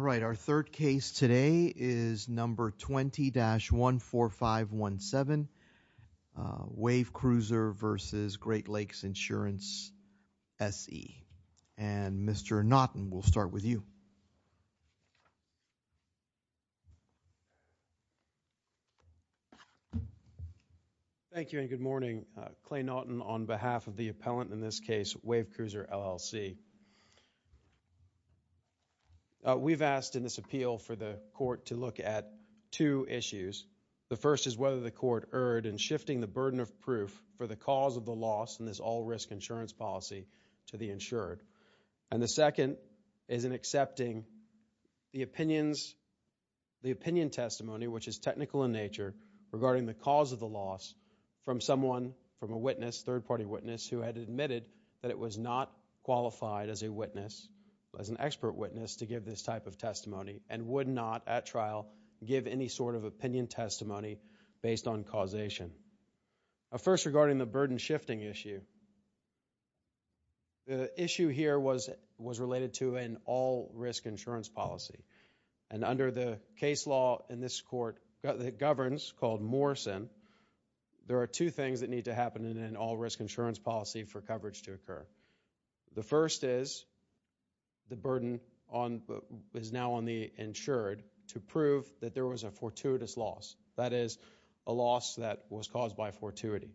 All right, our third case today is number 20-14517, Wave Cruiser v. Great Lakes Insurance SE. And Mr. Naughton, we'll start with you. Thank you and good morning. Clay Naughton on behalf of the appellant in this case, Wave Cruiser LLC. We've asked in this appeal for the court to look at two issues. The first is whether the court erred in shifting the burden of proof for the cause of the loss in this all-risk insurance policy to the insured. And the second is in accepting the opinion testimony, which is technical in nature, regarding the cause of the loss from someone, from a witness, third-party witness, who had admitted that it was not qualified as a witness, as an expert witness, to give this type of testimony and would not, at trial, give any sort of opinion testimony based on causation. First regarding the burden shifting issue, the issue here was related to an all-risk insurance policy. And under the case law in this court that governs, called Morrison, there are two things that need to happen in an all-risk insurance policy for coverage to occur. The first is the burden is now on the insured to prove that there was a fortuitous loss, that is, a loss that was caused by fortuity.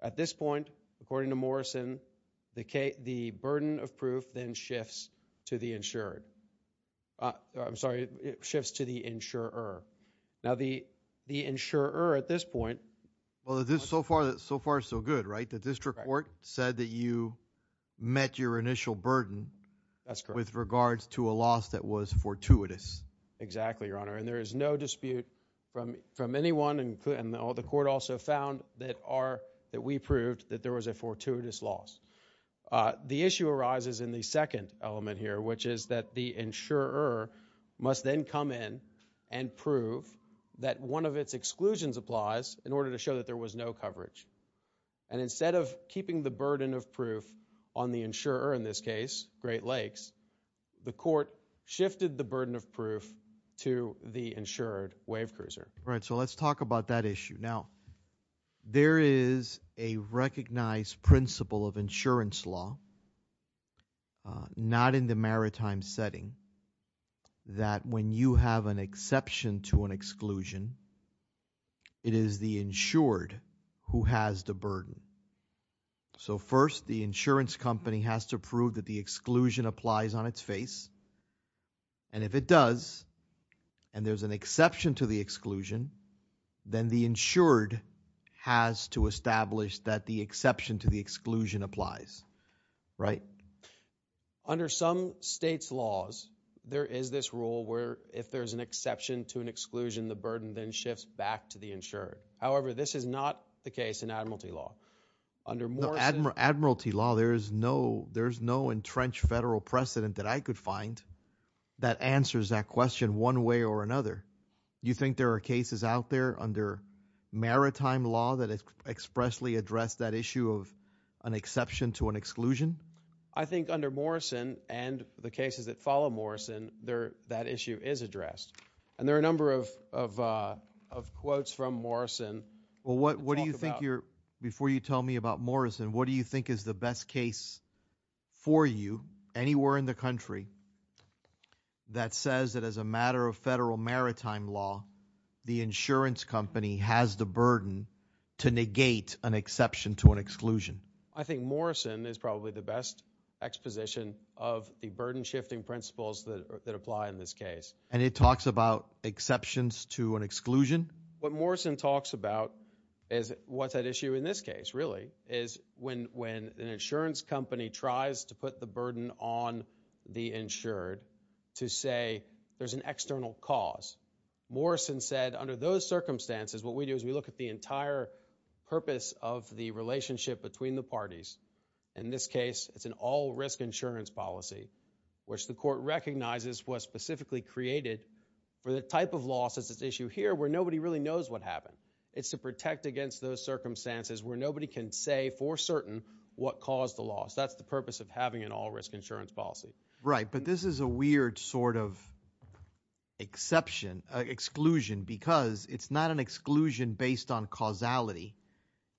At this point, according to Morrison, the burden shifts to the insurer. Now, the insurer at this point... Well, so far so good, right? The district court said that you met your initial burden with regards to a loss that was fortuitous. Exactly, Your Honor. And there is no dispute from anyone, and the court also found that we proved that there was a fortuitous loss. The issue arises in the second element here, which is that the insurer must then come in and prove that one of its exclusions applies in order to show that there was no coverage. And instead of keeping the burden of proof on the insurer in this case, Great Lakes, the court shifted the burden of proof to the insured wave cruiser. Right, so let's talk about that issue. Now, there is a recognized principle of insurance law, not in the maritime setting, that when you have an exception to an exclusion, it is the insured who has the burden. So first, the insurance company has to prove that the exclusion applies. Right? Under some states' laws, there is this rule where if there is an exception to an exclusion, the burden then shifts back to the insured. However, this is not the case in admiralty law. No, in admiralty law, there is no entrenched federal precedent that I could under maritime law that expressly addressed that issue of an exception to an exclusion? I think under Morrison and the cases that follow Morrison, that issue is addressed. And there are a number of quotes from Morrison. Well, what do you think, before you tell me about Morrison, what do you think is the best case for you anywhere in the country that says that as a insurance company has the burden to negate an exception to an exclusion? I think Morrison is probably the best exposition of the burden-shifting principles that apply in this case. And it talks about exceptions to an exclusion? What Morrison talks about is what's at issue in this case, really, is when an insurance company tries to put the burden on the insured to say there's an external cause. Morrison said, under those circumstances, what we do is we look at the entire purpose of the relationship between the parties. In this case, it's an all-risk insurance policy, which the court recognizes was specifically created for the type of loss that's at issue here where nobody really knows what happened. It's to protect against those circumstances where nobody can say for certain what caused the loss. That's the purpose of having an all-risk insurance policy. Right. But this is a weird sort of exception, exclusion, because it's not an exclusion based on causality.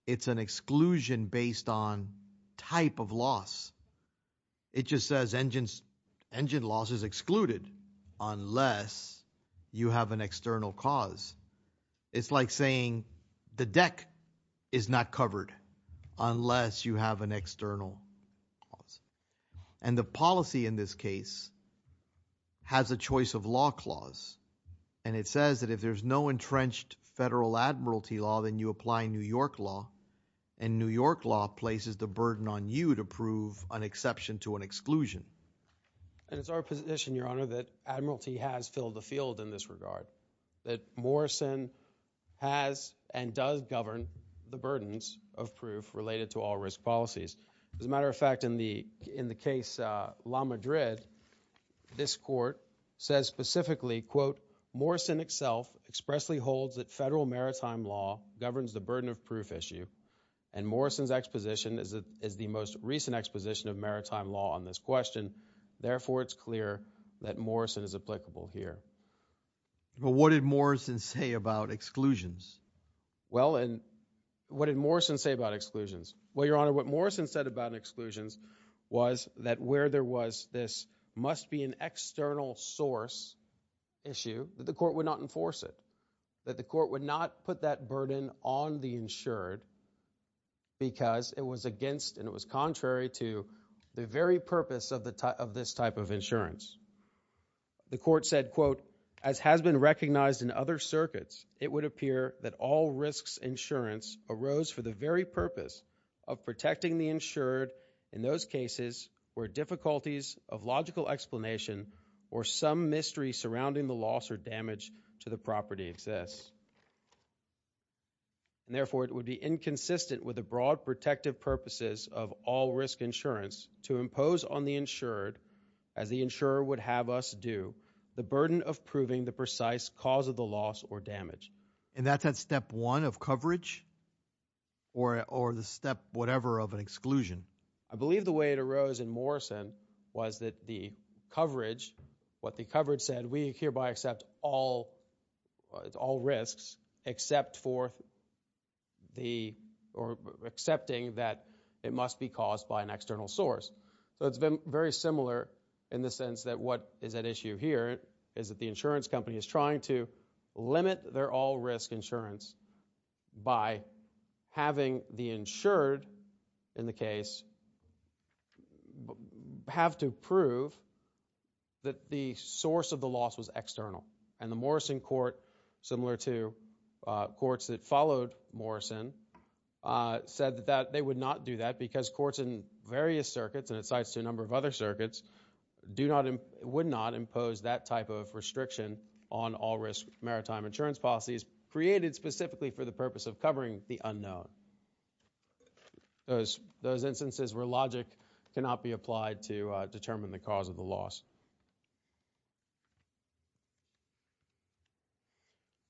It's an exclusion based on type of loss. It just says engine loss is excluded unless you have an external cause. It's like saying the deck is not covered unless you have an external cause. And the policy in this case has a choice of law clause. And it says that if there's no entrenched federal admiralty law, then you apply New York law. And New York law places the burden on you to prove an exception to an exclusion. And it's our position, Your Honor, that admiralty has filled the field in this regard. That Morrison has and does govern the burdens of proof related to all-risk policies. As a matter of fact, in the case La Madrid, this court says specifically, quote, Morrison itself expressly holds that federal maritime law governs the burden of proof issue. And Morrison's exposition is the most recent exposition of Morrison is applicable here. But what did Morrison say about exclusions? Well, and what did Morrison say about exclusions? Well, Your Honor, what Morrison said about exclusions was that where there was this must be an external source issue that the court would not enforce it, that the court would not put that burden on the insured because it was against and it was contrary to the very purpose of this type of insurance. The court said, quote, as has been recognized in other circuits, it would appear that all-risks insurance arose for the very purpose of protecting the insured in those cases where difficulties of logical explanation or some mystery surrounding the loss or damage to the property exists. And therefore, it would be inconsistent with broad protective purposes of all-risk insurance to impose on the insured, as the insurer would have us do, the burden of proving the precise cause of the loss or damage. And that's at step one of coverage or the step whatever of an exclusion? I believe the way it arose in Morrison was that the coverage, what the coverage said, we hereby accept all risks except for the or accepting that it must be caused by an external source. So it's been very similar in the sense that what is at issue here is that the insurance company is trying to limit their all-risk insurance by having the insured in the case have to prove that the source of the loss was external. And the Morrison court, similar to courts that followed Morrison, said that they would not do that because courts in various circuits, and it cites a number of other circuits, would not impose that type of restriction on all-risk maritime insurance policies created specifically for the purpose of covering the unknown. Those instances where logic cannot be applied to determine the cause of the loss.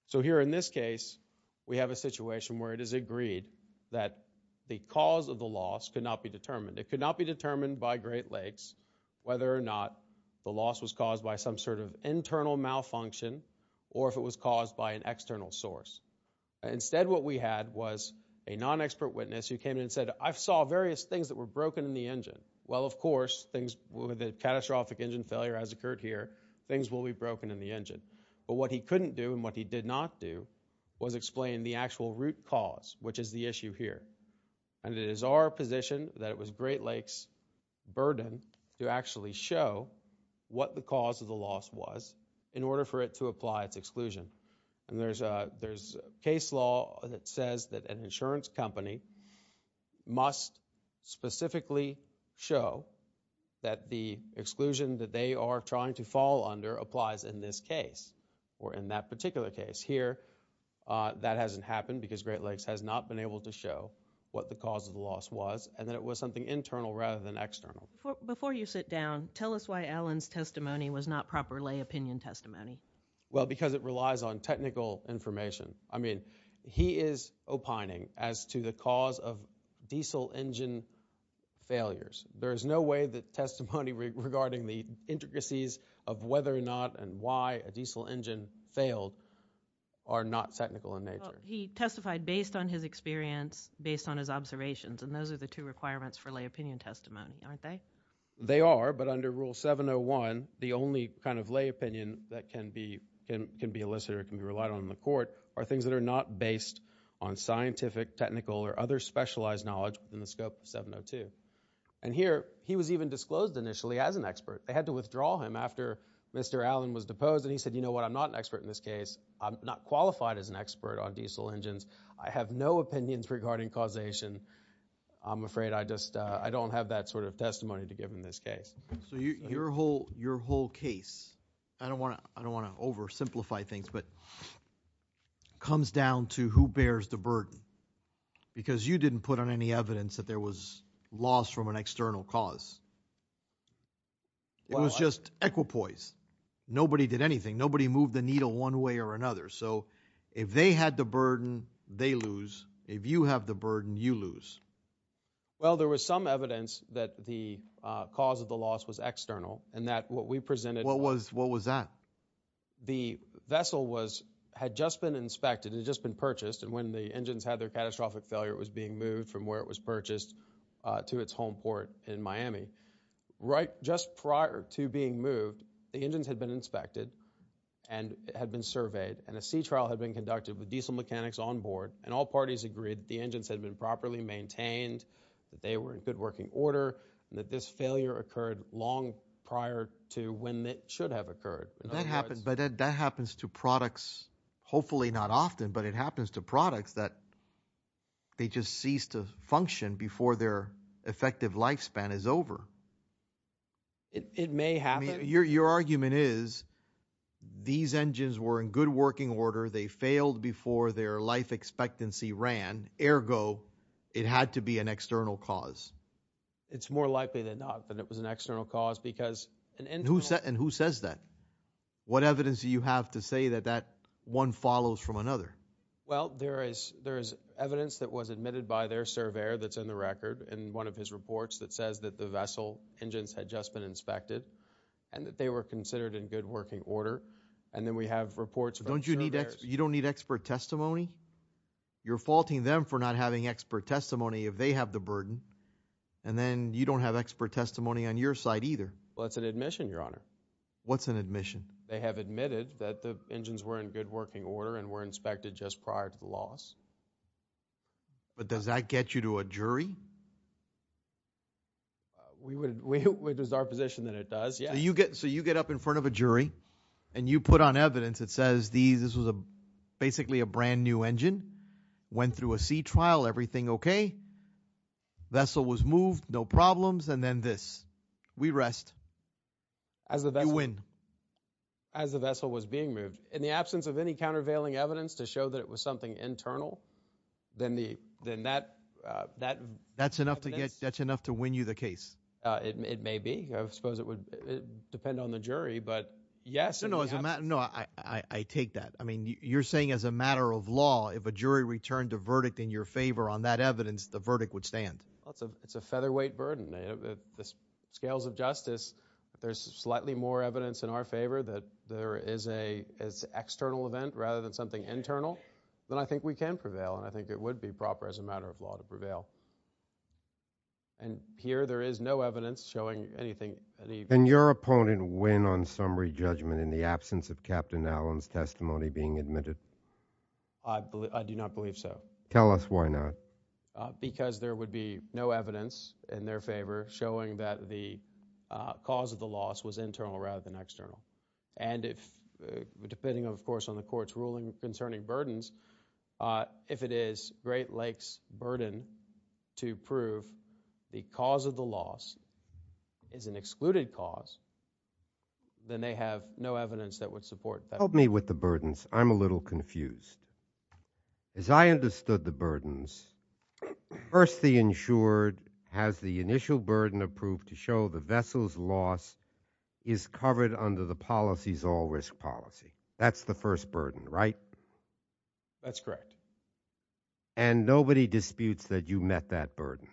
So here in this case, we have a situation where it is agreed that the cause of the loss could not be determined. It could not be determined by Great Lakes whether or not the loss was caused by some sort of internal malfunction or if it was caused by an external source. Instead what we had was a non-expert witness who came in and said, I saw various things that were broken in the engine. Well, of course, things with a catastrophic engine failure has occurred here. Things will be broken in the engine. But what he couldn't do and what he did not do was explain the actual root cause, which is the issue here. And it is our position that it was Great Lakes' burden to actually show what the cause of the loss was in order for it to apply its exclusion. And there's case law that says that an insurance company must specifically show that the exclusion that they are trying to fall under applies in this case or in that particular case. Here, that hasn't happened because Great Lakes has not been able to show what the cause of the loss was and that it was something internal rather than external. Before you sit down, tell us why Allen's testimony was not proper lay opinion testimony. Well, because it relies on technical information. I mean, he is opining as to the cause of diesel engine failures. There is no way that testimony regarding the intricacies of whether or not and why a diesel engine failed are not technical in nature. He testified based on his experience, based on his observations, and those are the two requirements for lay opinion testimony, aren't they? They are, but under Rule 701, the only kind of lay opinion that can be elicited or can be relied on in the court are things that are not based on scientific, technical, or other specialized knowledge within the scope of 702. And here, he was even disclosed initially as an expert. They had to withdraw him after Mr. Allen was deposed and he said, you know what, I'm not an expert in this case. I'm not qualified as an expert on diesel engines. I have no opinions regarding causation. I'm afraid I just, I don't have that sort of testimony to give in this case. So your whole case, I don't want to oversimplify things, but it comes down to who bears the burden because you didn't put on any evidence that there was loss from an external cause. It was just equipoise. Nobody did anything. Nobody moved the needle one way or another. So if they had the burden, they lose. If you have the burden, you lose. Well, there was some evidence that the cause of the loss was external and that what we presented- What was that? The vessel had just been inspected. It had just been purchased and when the engines had their catastrophic failure, it was being moved from where it was purchased to its home port in Miami. Right just prior to being moved, the engines had been inspected and had been surveyed and a sea trial had been conducted with diesel mechanics on board and all parties agreed the engines had been properly maintained, that they were in good working order and that this failure occurred long prior to when it should have occurred. But that happens to products, hopefully not often, but it happens to products that they just cease to function before their effective lifespan is over. It may happen. Your argument is these engines were in good working order. They failed before their life expectancy ran. Ergo, it had to be an external cause. It's more likely than not that it was an external cause because an internal- And who says that? What evidence do you have to say that that one follows from another? Well, there is evidence that was admitted by their surveyor that's in the record in one of his reports that says that the vessel engines had just been inspected and that they were considered in good working order. And then we have reports- You don't need expert testimony? You're faulting them for not having expert testimony if they have the burden, and then you don't have expert testimony on your side either? Well, it's an admission, Your Honor. What's an admission? They have admitted that the engines were in good working order and were inspected just prior to the loss. But does that get you to a jury? It is our position that it does, yeah. So you get up in front of a jury, and you put on evidence that says this was basically a brand new engine, went through a sea trial, everything okay, vessel was moved, no problems, and then this. We rest. You win. As the vessel was being moved. In the absence of any countervailing evidence to show that it was something internal, then that- That's enough to win you the case. It may be. I suppose it would depend on the jury, but yes- No, no. I take that. I mean, you're saying as a matter of law, if a jury returned a verdict in your favor on that evidence, the verdict would stand. It's a featherweight burden. At the scales of justice, if there's slightly more evidence in our favor that there is an external event rather than something internal, then I think we can prevail, and I think it would be proper as a matter of law to prevail. And here, there is no evidence showing anything- And your opponent win on summary judgment in the absence of Captain Allen's testimony being admitted? I do not believe so. Tell us why not. Because there would be no evidence in their favor showing that the cause of the loss was internal rather than external. And depending, of course, on the court's ruling concerning burdens, if it is Great Lakes' burden to prove the cause of the loss is an excluded cause, then they have no evidence that would support that. Help me with the burdens. I'm a little confused. As I understood the burdens, first the insured has the initial burden of proof to show the vessel's loss is covered under the policy's all-risk policy. That's the first burden, right? That's correct. And nobody disputes that you met that burden?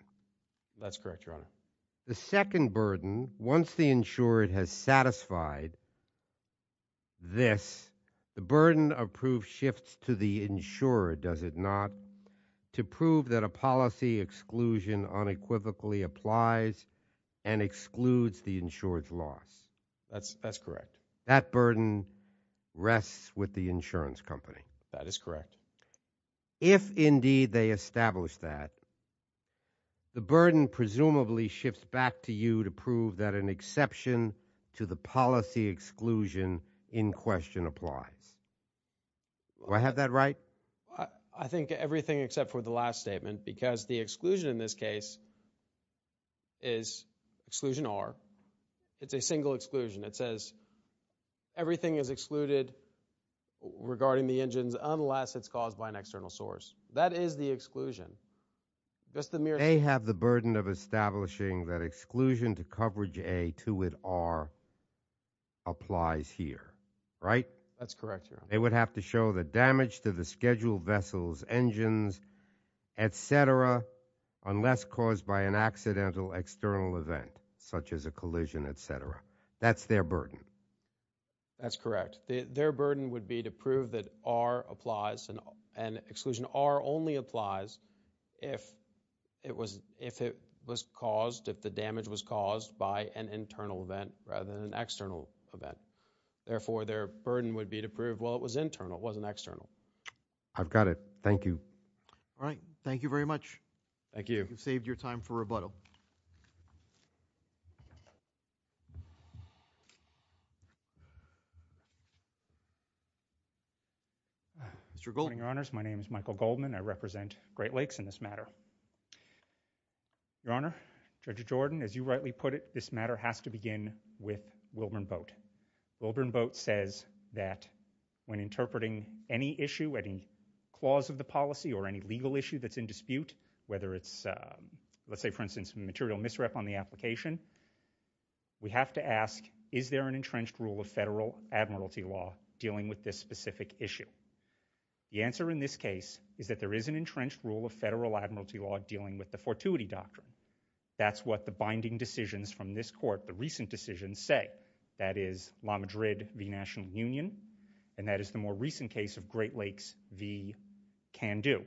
That's correct, Your Honor. The second burden, once the insured has satisfied this, the burden of proof shifts to the insured, does it not, to prove that a policy exclusion unequivocally applies and excludes the insured's loss? That's correct. That burden rests with the insurance company? That is correct. If, indeed, they establish that, the burden presumably shifts back to you to prove that an exception to the policy exclusion in question applies. Do I have that right? I think everything except for the last statement because the exclusion in this case is exclusion R. It's a single exclusion. It says everything is excluded regarding the engines unless it's caused by an external source. That is the exclusion. They have the burden of establishing that exclusion to coverage A to it R applies here, right? That's correct, Your Honor. They would have to show the damage to the scheduled vessels, engines, etc., unless caused by an accidental external event such as a collision, etc. That's their burden. That's correct. Their burden would be to prove that R applies and exclusion R only applies if it was caused, if the damage was caused by an internal event rather than an external event. Therefore, their burden would be to prove, well, it was internal, it wasn't external. I've got it. Thank you. All right. Thank you very much. Thank you. You've saved your time for rebuttal. Mr. Goldman. Your Honors, my name is Michael Goldman. I represent Great Lakes in this matter. Your Honor, Judge Jordan, as you rightly put it, this matter has to begin with Wilburn Boat. Wilburn Boat says that when interpreting any issue, any clause of the policy or any legal issue that's in dispute, whether it's, let's say, for instance, material misrep on the application, we have to ask, is there an entrenched rule of federal admiralty law dealing with this specific issue? The answer in this case is that there is an entrenched rule of federal admiralty law dealing with the fortuity doctrine. That's what the binding decisions from this court, the recent decisions say. That is, La Madrid v. National Union, and that is the more recent case of Great Lakes v. Can Do.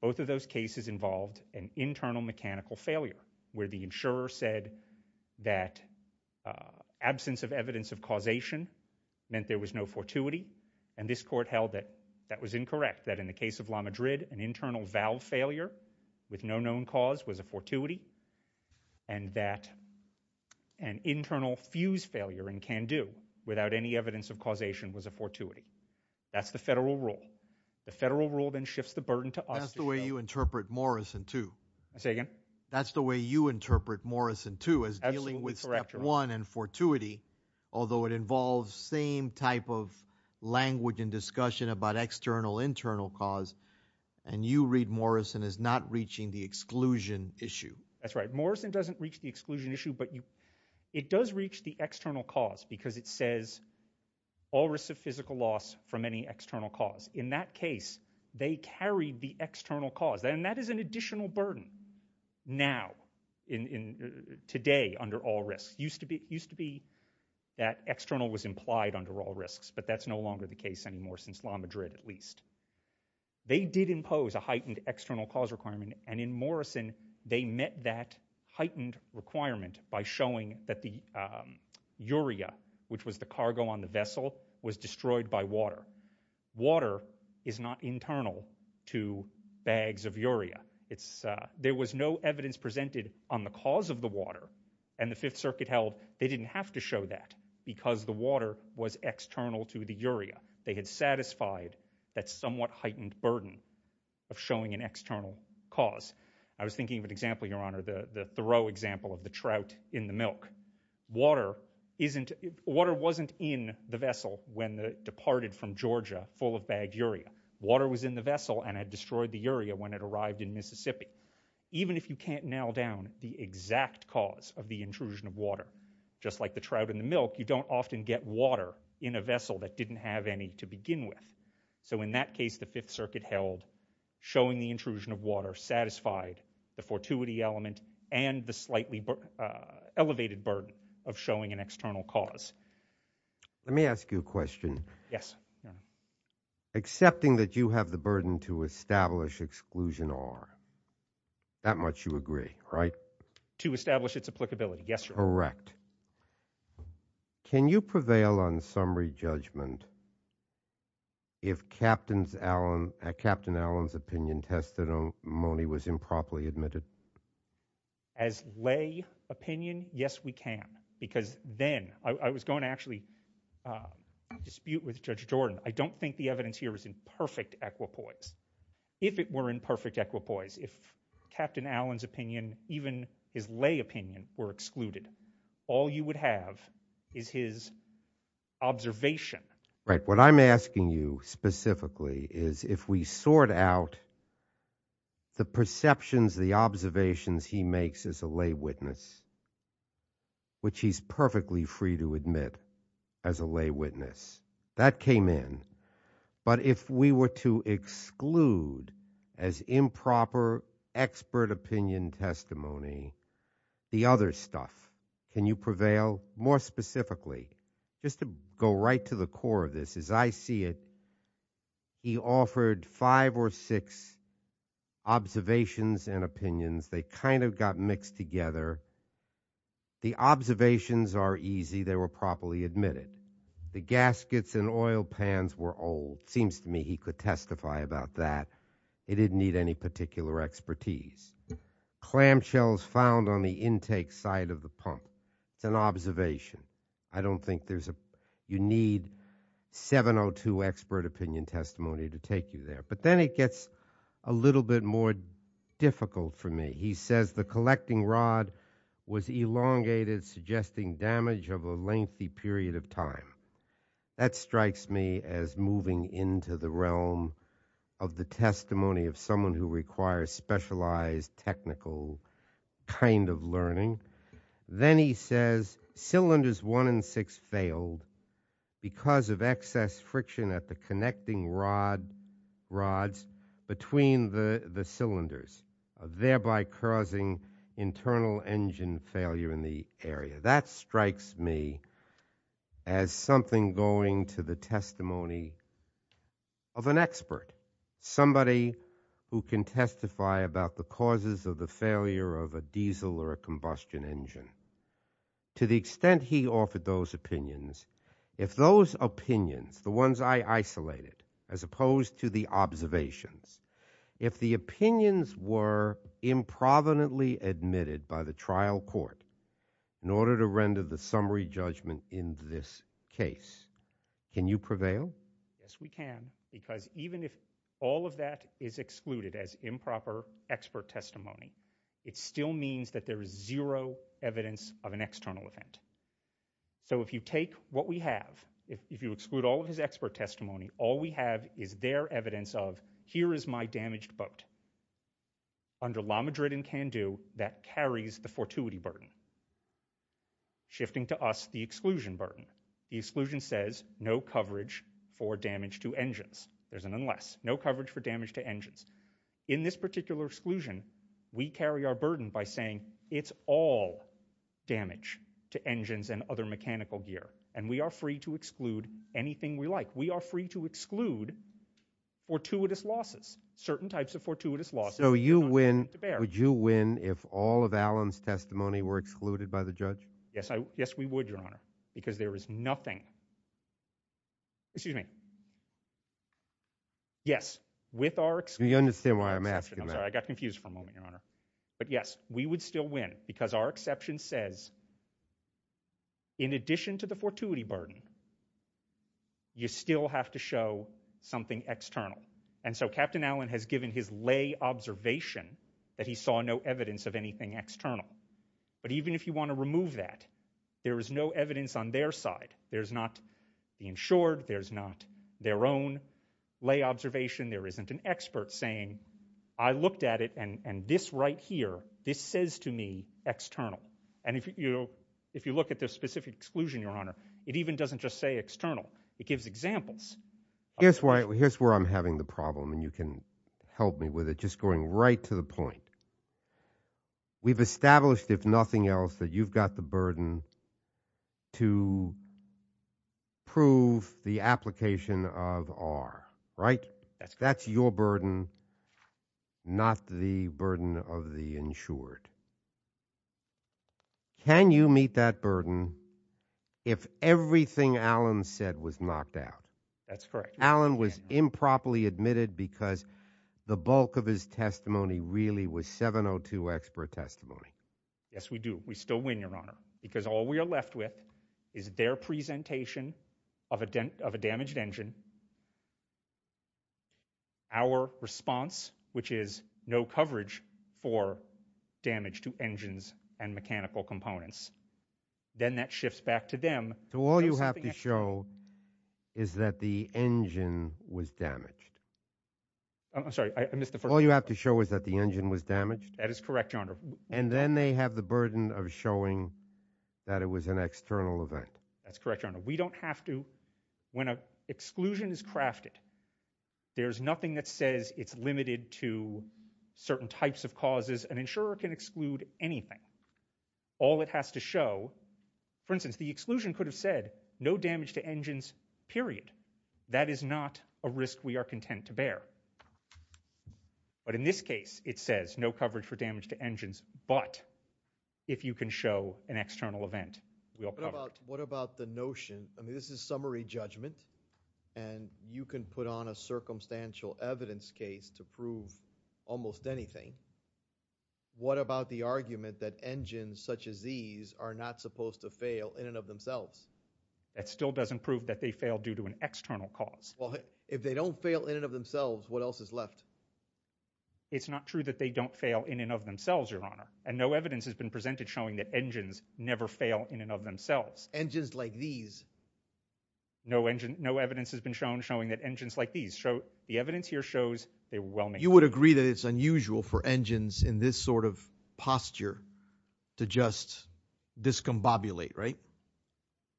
Both of those cases involved an internal mechanical failure where the insurer said that absence of evidence of causation meant there was no fortuity, and this court held that that was incorrect, that in the case of La Madrid, an internal valve failure with no known cause was a fortuity, and that an internal fuse failure in Can Do without any evidence of causation was a fortuity. That's the federal rule. The federal rule then shifts the burden to us. That's the way you interpret Morrison too. Say again? That's the way you interpret Morrison too as dealing with step one and fortuity, although it involves same type of language and discussion about external internal cause, and you read Morrison as not reaching the exclusion issue. That's right. Morrison doesn't reach the exclusion issue, but it does reach the external cause because it says all risks of physical loss from any external cause. In that today, under all risks, used to be that external was implied under all risks, but that's no longer the case anymore since La Madrid at least. They did impose a heightened external cause requirement, and in Morrison, they met that heightened requirement by showing that the urea, which was the cargo on the vessel, was destroyed by water. Water is not internal to bags of urea. There was no evidence presented on the cause of the water, and the Fifth Circuit held they didn't have to show that because the water was external to the urea. They had satisfied that somewhat heightened burden of showing an external cause. I was thinking of an example, Your Honor, the Thoreau example of the trout in the milk. Water wasn't in the vessel when it departed from Georgia full of bagged urea. Water was in the vessel and had destroyed the urea when it arrived in Mississippi. Even if you can't nail down the exact cause of the intrusion of water, just like the trout in the milk, you don't often get water in a vessel that didn't have any to begin with. So in that case, the Fifth Circuit held showing the intrusion of water satisfied the fortuity element and the slightly elevated burden of showing an external cause. Let me ask you a question. Yes, Your Honor. Accepting that you have the burden to establish exclusion R, that much you agree, right? To establish its applicability, yes, Your Honor. Correct. Can you prevail on summary judgment if Captain Allen's opinion was improperly admitted? As lay opinion, yes, we can. Because then, I was going to actually dispute with Judge Jordan. I don't think the evidence here is in perfect equipoise. If it were in perfect equipoise, if Captain Allen's opinion, even his lay opinion, were excluded, all you would have is his observation. Right. What I'm asking you specifically is if we sort out the perceptions, the observations he makes as a lay witness, which he's perfectly free to admit as a lay witness, that came in. But if we were to exclude as improper expert opinion testimony, the other stuff, can you prevail more specifically? Just to go right to the core of this, as I see it, he offered five or six observations and opinions. They kind of got mixed together. The observations are easy. They were properly admitted. The gaskets and oil pans were old. Seems to me he could testify about that. He didn't need any particular expertise. Clamshells found on you need 702 expert opinion testimony to take you there. But then it gets a little bit more difficult for me. He says the collecting rod was elongated, suggesting damage of a lengthy period of time. That strikes me as moving into the realm of the testimony of someone who requires specialized technical kind of learning. Then he says cylinders one and six failed because of excess friction at the connecting rods between the cylinders, thereby causing internal engine failure in the area. That strikes me as something going to the testimony of an expert, somebody who can testify about the causes of the failure of a diesel or a combustion engine. To the extent he offered those opinions, if those opinions, the ones I isolated, as opposed to the observations, if the opinions were improvidently admitted by the trial court in order to render the summary judgment in this case, can you prevail? Yes, we can, because even if all of that is excluded as improper expert testimony, it still means that there is zero evidence of an external event. So if you take what we have, if you exclude all of his expert testimony, all we have is their evidence of here is my damaged boat under La Madrid and shifting to us the exclusion burden. The exclusion says no coverage for damage to engines. There's an unless, no coverage for damage to engines. In this particular exclusion, we carry our burden by saying it's all damage to engines and other mechanical gear and we are free to exclude anything we like. We are free to exclude fortuitous losses, certain types of fortuitous losses. So you win, would you Yes, we would, Your Honor, because there is nothing, excuse me, yes, with our, you understand why I'm asking that, I got confused for a moment, Your Honor, but yes, we would still win because our exception says in addition to the fortuity burden, you still have to show something external. And so Captain Allen has given his lay observation that he saw no evidence of anything external. But even if you want to remove that, there is no evidence on their side. There's not the insured, there's not their own lay observation, there isn't an expert saying I looked at it and this right here, this says to me external. And if you, if you look at this specific exclusion, Your Honor, it even doesn't just say external, it gives examples. Here's why, here's where I'm having the problem and you can help me with it, just going right to the point. We've established, if nothing else, that you've got the burden to prove the application of R, right? That's your burden, not the burden of the insured. Can you meet that burden if everything Allen said was knocked out? That's correct. Allen was improperly admitted because the bulk of his testimony really was 702X per testimony. Yes, we do. We still win, Your Honor, because all we are left with is their presentation of a damaged engine, our response, which is no coverage for damage to engines and mechanical components. Then that shifts back to them. So all you have to show is that the engine was damaged? I'm sorry, I missed the first part. All you have to show is that the engine was damaged? That is correct, Your Honor. And then they have the burden of showing that it was an external event? That's correct, Your Honor. We don't have to, when an exclusion is crafted, there's nothing that says it's limited to certain types of causes. An insurer can exclude anything. All it has to show, for instance, the exclusion could have said no damage to engines, period. That is not a risk we are content to bear. But in this case, it says no coverage for damage to engines, but if you can show an external event, we'll cover it. What about the notion, I mean, this is summary judgment, and you can put on a circumstantial evidence case to prove almost anything. What about the argument that engines such as these are not supposed to fail in and of themselves? That still doesn't prove that they fail due to an external cause. Well, if they don't fail in and of themselves, what else is left? It's not true that they don't fail in and of themselves, Your Honor. And no evidence has been presented showing that engines never fail in and of themselves. Engines like these? No engine, no evidence has been shown showing that engines like these show, the evidence here shows they were well made. You would agree that it's unusual for engines in this sort of posture to just discombobulate, right?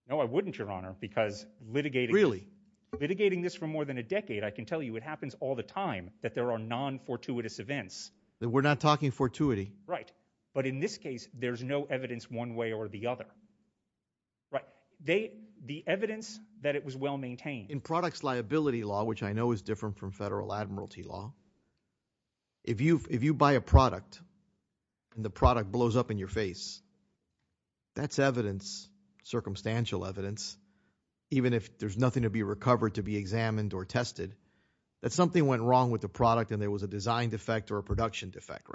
No, I wouldn't, Your Honor, because litigating... Really? Litigating this for more than a decade, I can tell you it happens all the time that there are non-fortuitous events. We're not talking fortuity. Right. But in this case, there's no evidence one way or the other. Right. The evidence that it was well maintained. In products liability law, which I know is different from federal admiralty law, if you buy a product and the product blows up in your face, that's evidence, circumstantial evidence, even if there's nothing to be recovered to be examined or tested, that something went wrong with the product and there was a design defect or a production defect,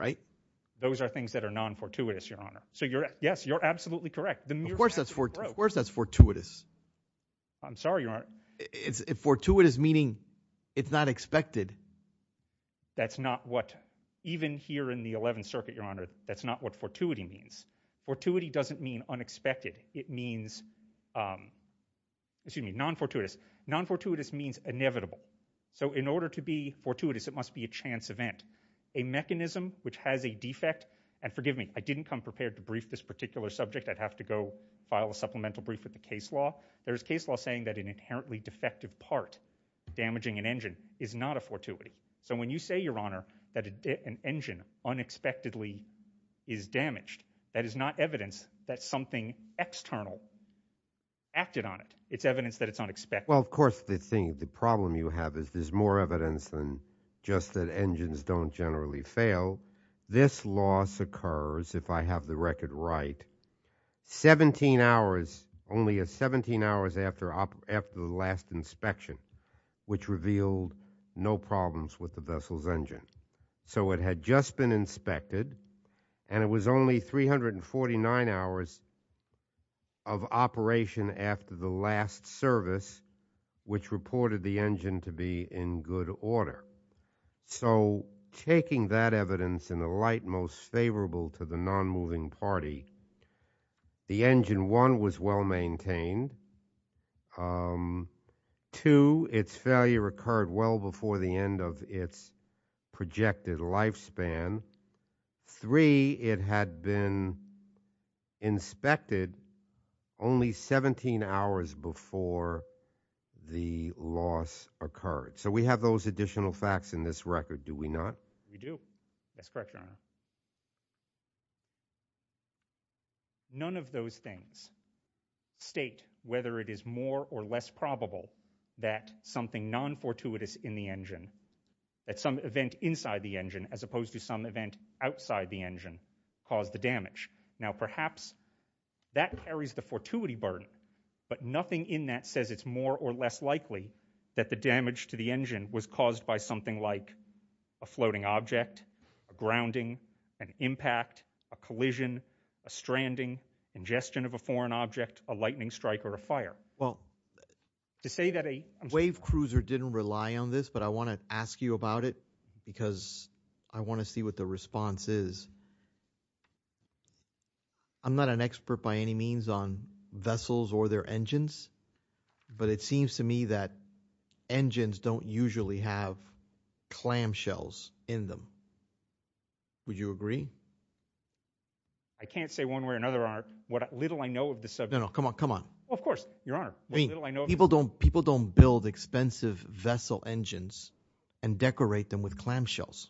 Those are things that are non-fortuitous, Your Honor. So yes, you're absolutely correct. Of course that's fortuitous. I'm sorry, Your Honor. Fortuitous meaning it's not expected. That's not what, even here in the 11th Circuit, Your Honor, that's not what fortuity means. Fortuity doesn't mean unexpected. It means, excuse me, non-fortuitous. Non-fortuitous means inevitable. So in order to be fortuitous, it must be a chance event, a mechanism which has a defect. And forgive me, I didn't come prepared to brief this particular subject. I'd have to go file a supplemental brief with the case law. There's case law saying that an inherently defective part, damaging an engine, is not a fortuity. So when you say, Your Honor, that an engine unexpectedly is damaged, that is not evidence that something external acted on it. It's evidence that it's unexpected. Well, of course, the thing, the problem you have is there's more evidence than just that engines don't generally fail. This loss occurs, if I have the record right, 17 hours, only 17 hours after the last inspection, which revealed no problems with the vessel's engine. So it had just been inspected, and it was only 349 hours of operation after the last service, which reported the engine to be in good order. So taking that evidence in the light most favorable to the non-moving party, the engine, one, was well maintained. Two, its failure occurred well before the end of its projected lifespan. Three, it had been inspected only 17 hours before the loss occurred. So we have those additional facts in this record, do we not? We do. That's correct, Your Honor. None of those things state whether it is more or less probable that something non-fortuitous in the engine, that some event inside the engine, as opposed to some event outside the engine, caused the damage. Now, perhaps that carries the fortuity burden, but nothing in that says it's more or less likely that the damage to the engine was caused by something like a floating object, a grounding, an impact, a collision, a stranding, ingestion of a foreign object, a lightning strike, or a fire. Well, to say that a wave cruiser didn't rely on this, but I want to ask you about it because I want to see what the response is. I'm not an expert by any means on vessels or their engines, but it seems to me that engines don't usually have clamshells in them. Would you agree? I can't say one way or another, Your Honor. What little I know of the subject. No, no, come on, come on. Well, of course, Your Honor. I mean, people don't build expensive vessel engines and decorate them with clamshells,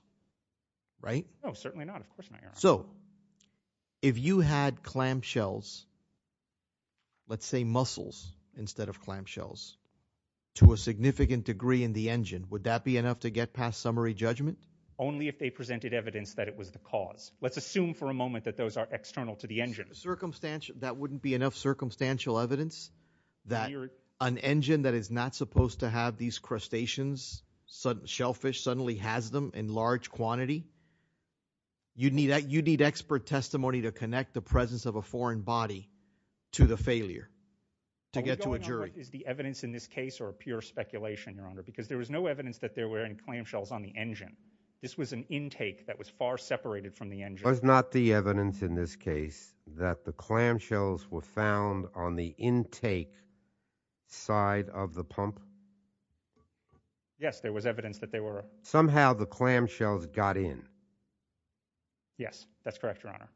right? No, certainly not, of course not, Your Honor. So, if you had clamshells, let's say mussels instead of clamshells, to a significant degree in the engine, would that be enough to get past summary judgment? Only if they presented evidence that it was the cause. Let's assume for a moment that those are external to the engine. Circumstantial, that wouldn't be enough circumstantial evidence that an engine that is not supposed to have these crustaceans, shellfish, suddenly has them in large quantity. You'd need expert testimony to connect the presence of a foreign body to the failure to get to a jury. Is the evidence in this case or pure speculation, Your Honor? Because there was no evidence that there were any clamshells on the engine. This was an intake that was far separated from the engine. Was not the evidence in this case that the clamshells were found on the intake side of the pump? Yes, there was evidence that they were. Somehow the clamshells got in. Yes, that's correct, Your Honor.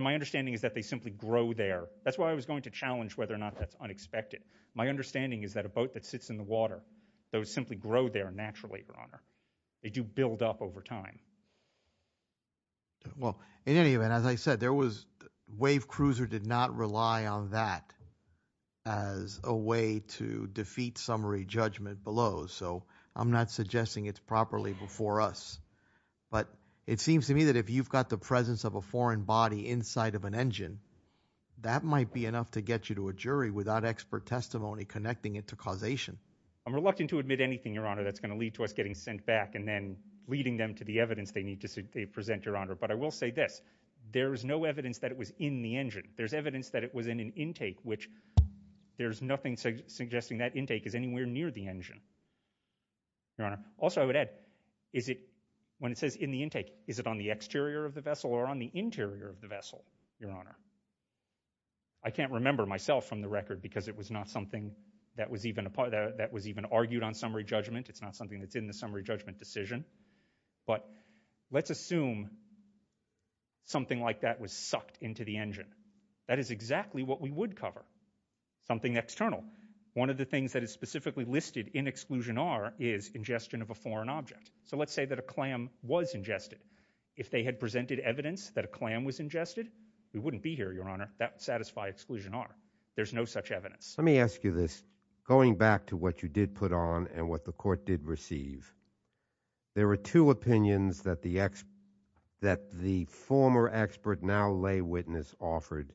My understanding is that they simply grow there. That's why I was going to challenge whether or not that's unexpected. My understanding is that a boat that sits in the water, those simply grow there naturally, Your Honor. They do build up over time. Well, in any event, as I said, there was, Wave Cruiser did not rely on that as a way to defeat summary judgment below. So I'm not suggesting it's properly before us. But it seems to me that if you've got the presence of a foreign body inside of an engine, that might be enough to get you to a jury without expert testimony connecting it to causation. I'm reluctant to admit anything, Your Honor, that's going to lead to us getting sent back and then leading them to the evidence they need to present, Your Honor. But I will say this. There is no evidence that it was in the engine. There's evidence that it was in an intake, which there's nothing suggesting that intake is anywhere near the engine, Your Honor. Also, I would add, is it when it says in the intake, is it on the exterior of the vessel or on the interior of the vessel, Your Honor? I can't remember myself from the record because it was not something that was even a part of that was even argued on summary judgment. It's not something that's in the summary judgment decision. But let's assume something like that was sucked into the engine. That is exactly what we would cover. Something external. One of the things that is specifically listed in Exclusion R is ingestion of a foreign object. So let's say that a clam was ingested. If they had presented evidence that a clam was ingested, we wouldn't be here, Your Honor. That would satisfy Exclusion R. There's no such evidence. Let me ask you this. Going back to what you did put on and what the court did receive, there were two opinions that the former expert now lay witness offered.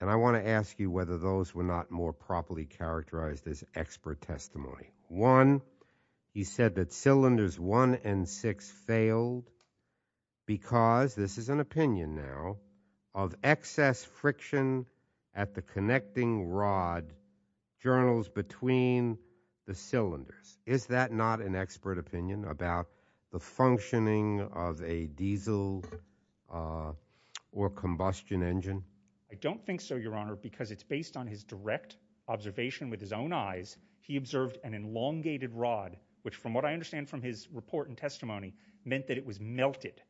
And I want to ask you whether those were not more properly characterized as expert testimony. One, he said that cylinders one and six failed because, this is an opinion now, of excess friction at the connecting rod journals between the cylinders. Is that not an expert opinion about the functioning of a diesel or combustion engine? I don't think so, Your Honor, because it's based on his direct observation with his own eyes. He observed an elongated rod, which from what I understand from his report and testimony, meant that it was melted.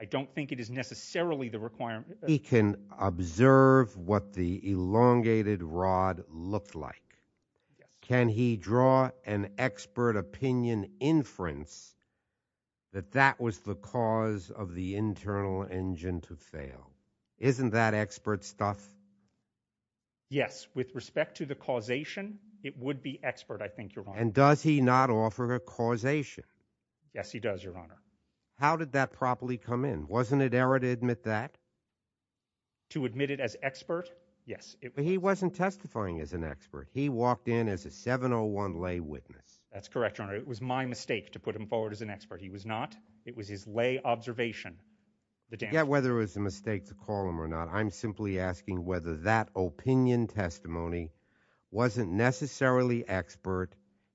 I don't think it is necessarily the requirement. He can observe what the elongated rod looked like. Can he draw an expert opinion inference that that was the cause of the internal engine to fail? Isn't that expert stuff? Yes. With respect to the causation, it would be expert, I think, Your Honor. And does he not offer a causation? Yes, he does, Your Honor. How did that properly come in? Wasn't it error to admit that? To admit it as expert? Yes. He wasn't testifying as an expert. He walked in as a 701 lay witness. That's correct, Your Honor. It was my mistake to put him forward as an expert. He was not. It was his lay observation. Whether it was a mistake to call him or not, I'm simply asking whether that opinion testimony wasn't necessarily expert.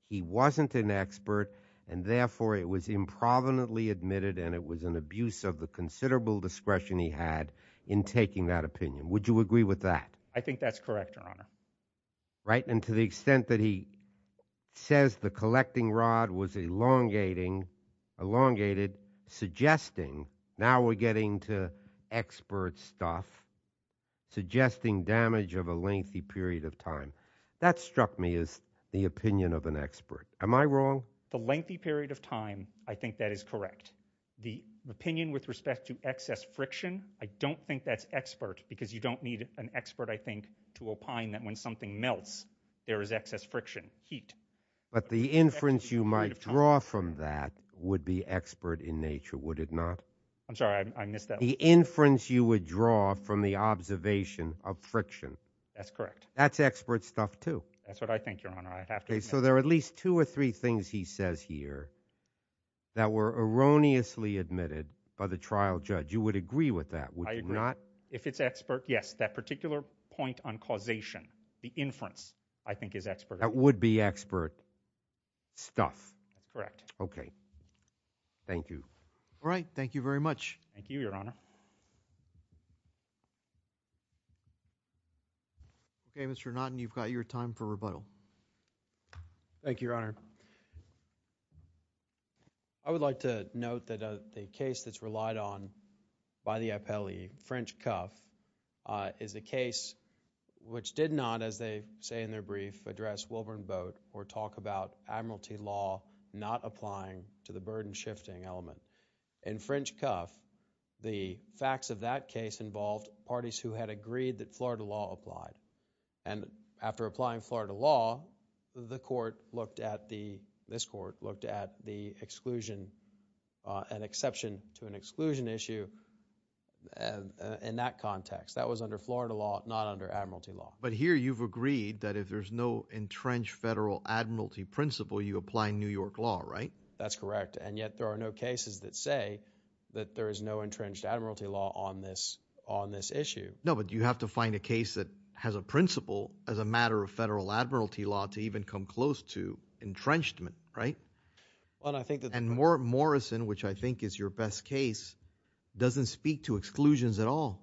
He wasn't an expert. And therefore, it was improvidently admitted, and it was an abuse of the considerable discretion he had in taking that opinion. Would you agree with that? I think that's correct, Your Honor. Right. And to the extent that he says the collecting rod was elongating, elongated, suggesting, now we're getting to expert stuff, suggesting damage of a lengthy period of time. That struck me as the opinion of an expert. Am I wrong? The lengthy period of time, I think that is correct. The opinion with respect to excess friction, I don't think that's expert because you don't need an expert, I think, to opine that when something melts, there is excess friction, heat. But the inference you might draw from that would be expert in nature, would it not? I'm sorry, I missed that. The inference you would draw from the observation of friction. That's correct. That's expert stuff too. That's what I think, Your Honor. I have to admit. So there are at least two or three things he says here that were erroneously admitted by the trial judge. You would agree with that, would you not? I agree. If it's expert, yes. That particular point on causation, the inference, I think is expert. That would be expert stuff. Correct. Okay. Thank you. All right. Thank you very much. Thank you, Your Honor. Okay, Mr. Naughton, you've got your time for rebuttal. Thank you, Your Honor. I would like to note that the case that's relied on by the appellee, French Cuff, is a case which did not, as they say in their brief, address Wilburn Boat or talk about admiralty law not applying to the burden-shifting element. In French Cuff, the facts of that case involved parties who had agreed that Florida law applied. And after applying Florida law, the court looked at the, this court looked at the exclusion, an exception to an exclusion issue in that context. That was under Florida law, not under admiralty law. But here you've agreed that if there's no entrenched federal admiralty principle, you apply New York law, right? That's correct. And yet there are no cases that say that there is no entrenched admiralty law on this issue. No, but you have to find a case that has a principle as a matter of federal admiralty law to even come close to entrenchment, right? Well, I think that... And Morrison, which I think is your best case, doesn't speak to exclusions at all.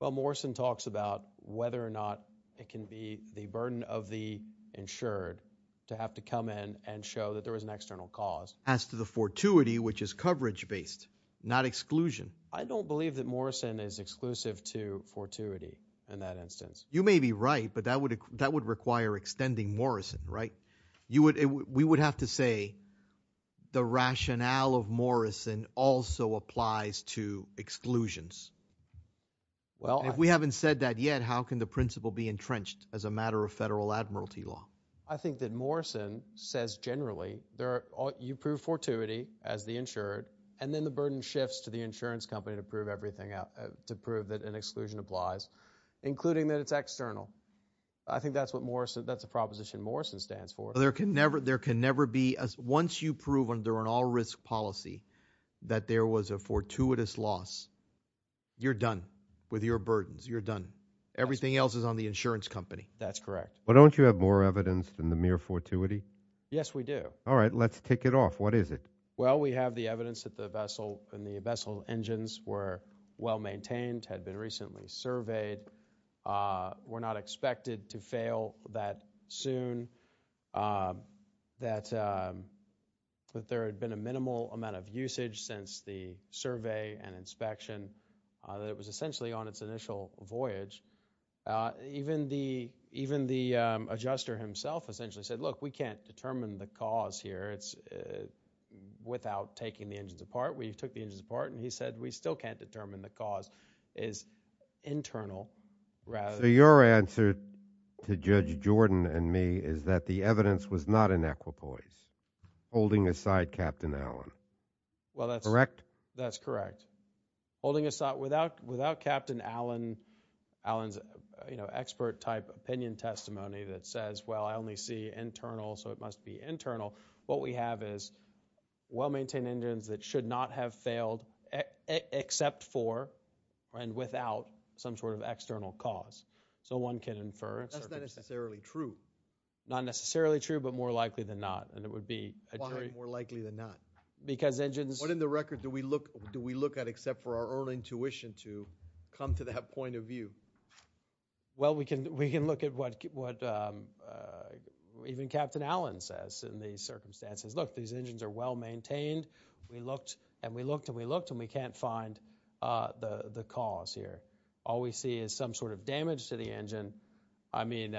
Well, Morrison talks about whether or not it can be the burden of the insured to have to come in and show that there was an external cause. As to the fortuity, which is coverage-based, not exclusion. I don't believe that Morrison is exclusive to fortuity in that instance. You may be right, but that would require extending Morrison, right? We would have to say the rationale of Morrison also applies to exclusions. If we haven't said that yet, how can the principle be entrenched as a matter of federal admiralty law? I think that Morrison says generally, you prove fortuity as the insured, and then the burden shifts to the insurance company to prove everything out, to prove that an exclusion applies, including that it's external. I think that's what Morrison... That's a proposition Morrison stands for. There can never be... Once you prove under an all-risk policy that there was a fortuitous loss, you're done with your burdens. You're done. Everything else is on the insurance company. That's correct. But don't you have more evidence than the mere fortuity? Yes, we do. All right, let's take it off. What is it? Well, we have the evidence that the vessel and the vessel engines were well-maintained, had been recently surveyed, were not expected to fail that soon, that there had been a minimal amount of usage since the survey and inspection, that it was essentially on its initial voyage. Even the adjuster himself essentially said, look, we can't determine the cause here without taking the engines apart. We took the engines apart, and he said, we still can't determine the cause is internal, rather... So your answer to Judge Jordan and me is that the evidence was not in equipoise, holding aside Captain Allen. Well, that's... Correct? That's correct. Holding aside... Without Captain Allen's expert-type opinion testimony that says, I only see internal, so it must be internal, what we have is well-maintained engines that should not have failed except for and without some sort of external cause. So one can infer... That's not necessarily true. Not necessarily true, but more likely than not. And it would be a jury... Why more likely than not? Because engines... What in the record do we look at except for our own intuition to come to that point of view? Well, we can look at what even Captain Allen says in these circumstances. Look, these engines are well-maintained. We looked, and we looked, and we looked, and we can't find the cause here. All we see is some sort of damage to the engine. I mean,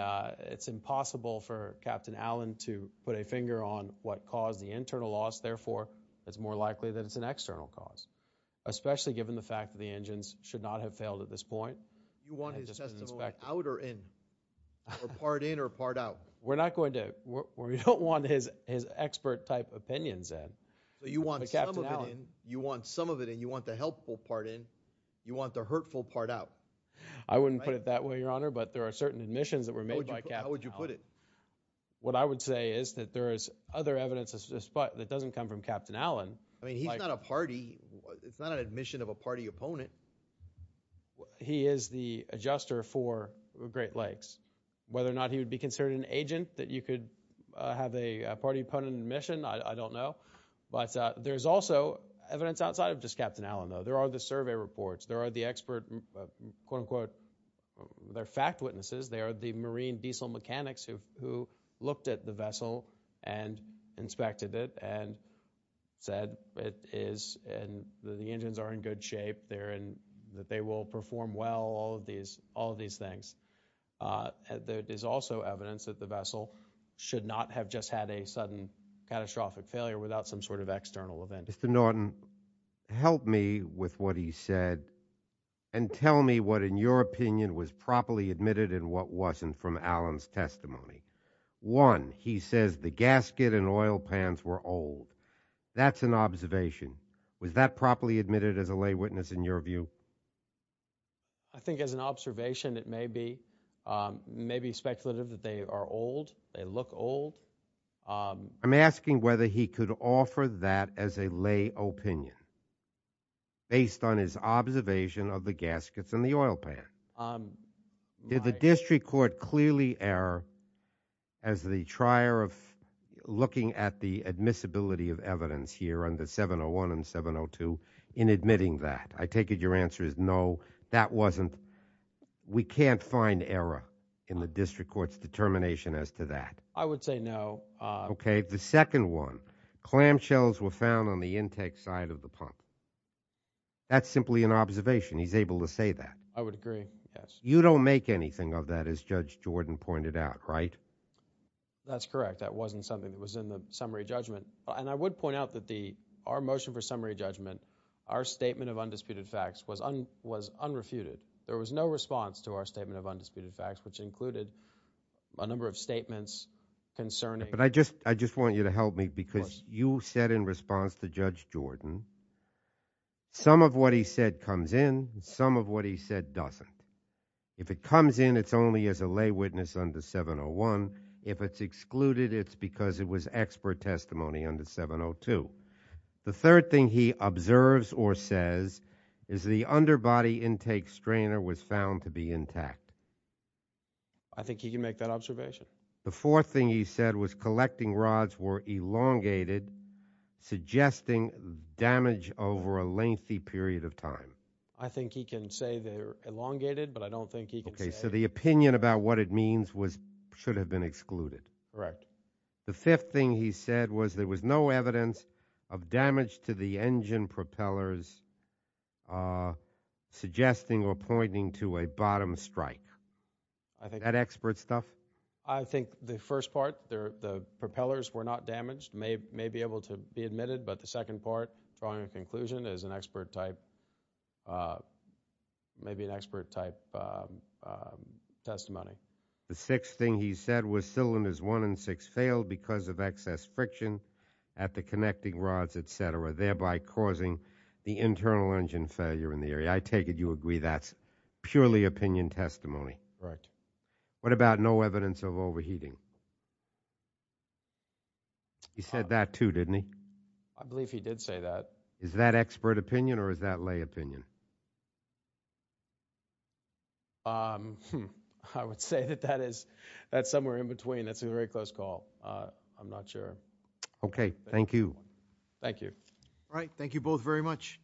it's impossible for Captain Allen to put a finger on what caused the internal loss. Therefore, it's more likely that it's an external cause, especially given the fact that the engines should not have failed at this point. Do you want his testimony out or in? Or part in or part out? We're not going to... We don't want his expert-type opinions in. But you want some of it in. You want some of it in. You want the helpful part in. You want the hurtful part out. I wouldn't put it that way, Your Honor, but there are certain admissions that were made by Captain Allen. How would you put it? What I would say is that there is other evidence that doesn't come from Captain Allen. I mean, he's not a party. It's not an admission of a party opponent. He is the adjuster for Great Lakes. Whether or not he would be considered an agent, that you could have a party opponent in admission, I don't know. But there's also evidence outside of just Captain Allen, though. There are the survey reports. There are the expert, quote-unquote, they're fact witnesses. They are the marine diesel mechanics who looked at the vessel and inspected it and said it is and the engines are in good shape. That they will perform well, all of these things. There is also evidence that the vessel should not have just had a sudden catastrophic failure without some sort of external event. Mr. Norton, help me with what he said and tell me what, in your opinion, was properly admitted and what wasn't from Allen's testimony. One, he says the gasket and oil pans were old. That's an observation. Was that properly admitted as a lay witness in your view? I think as an observation, it may be speculative that they are old. They look old. I'm asking whether he could offer that as a lay opinion based on his observation of the gaskets and the oil pan. Did the district court clearly err as the trier of the admissibility of evidence here under 701 and 702 in admitting that? I take it your answer is no, that wasn't. We can't find error in the district court's determination as to that. I would say no. The second one, clamshells were found on the intake side of the pump. That's simply an observation. He's able to say that. I would agree, yes. You don't make anything of that as Judge Jordan pointed out, right? That's correct. That wasn't something that was in the summary judgment. I would point out that our motion for summary judgment, our statement of undisputed facts was unrefuted. There was no response to our statement of undisputed facts, which included a number of statements concerning- But I just want you to help me because you said in response to Judge Jordan, some of what he said comes in, some of what he said doesn't. If it comes in, it's only as a lay witness under 701. If it's excluded, it's because it was expert testimony under 702. The third thing he observes or says is the underbody intake strainer was found to be intact. I think he can make that observation. The fourth thing he said was collecting rods were elongated, suggesting damage over a lengthy period of time. I think he can say they're elongated, but I don't think he can say- The opinion about what it means should have been excluded. Correct. The fifth thing he said was there was no evidence of damage to the engine propellers suggesting or pointing to a bottom strike. I think- That expert stuff? I think the first part, the propellers were not damaged, may be able to be admitted, but the second part, drawing a conclusion, is an expert type- testimony. The sixth thing he said was cylinders one and six failed because of excess friction at the connecting rods, et cetera, thereby causing the internal engine failure in the area. I take it you agree that's purely opinion testimony. Right. What about no evidence of overheating? He said that too, didn't he? I believe he did say that. Is that expert opinion or is that lay opinion? I would say that that's somewhere in between. That's a very close call. I'm not sure. Okay. Thank you. Thank you. All right. Thank you both very much.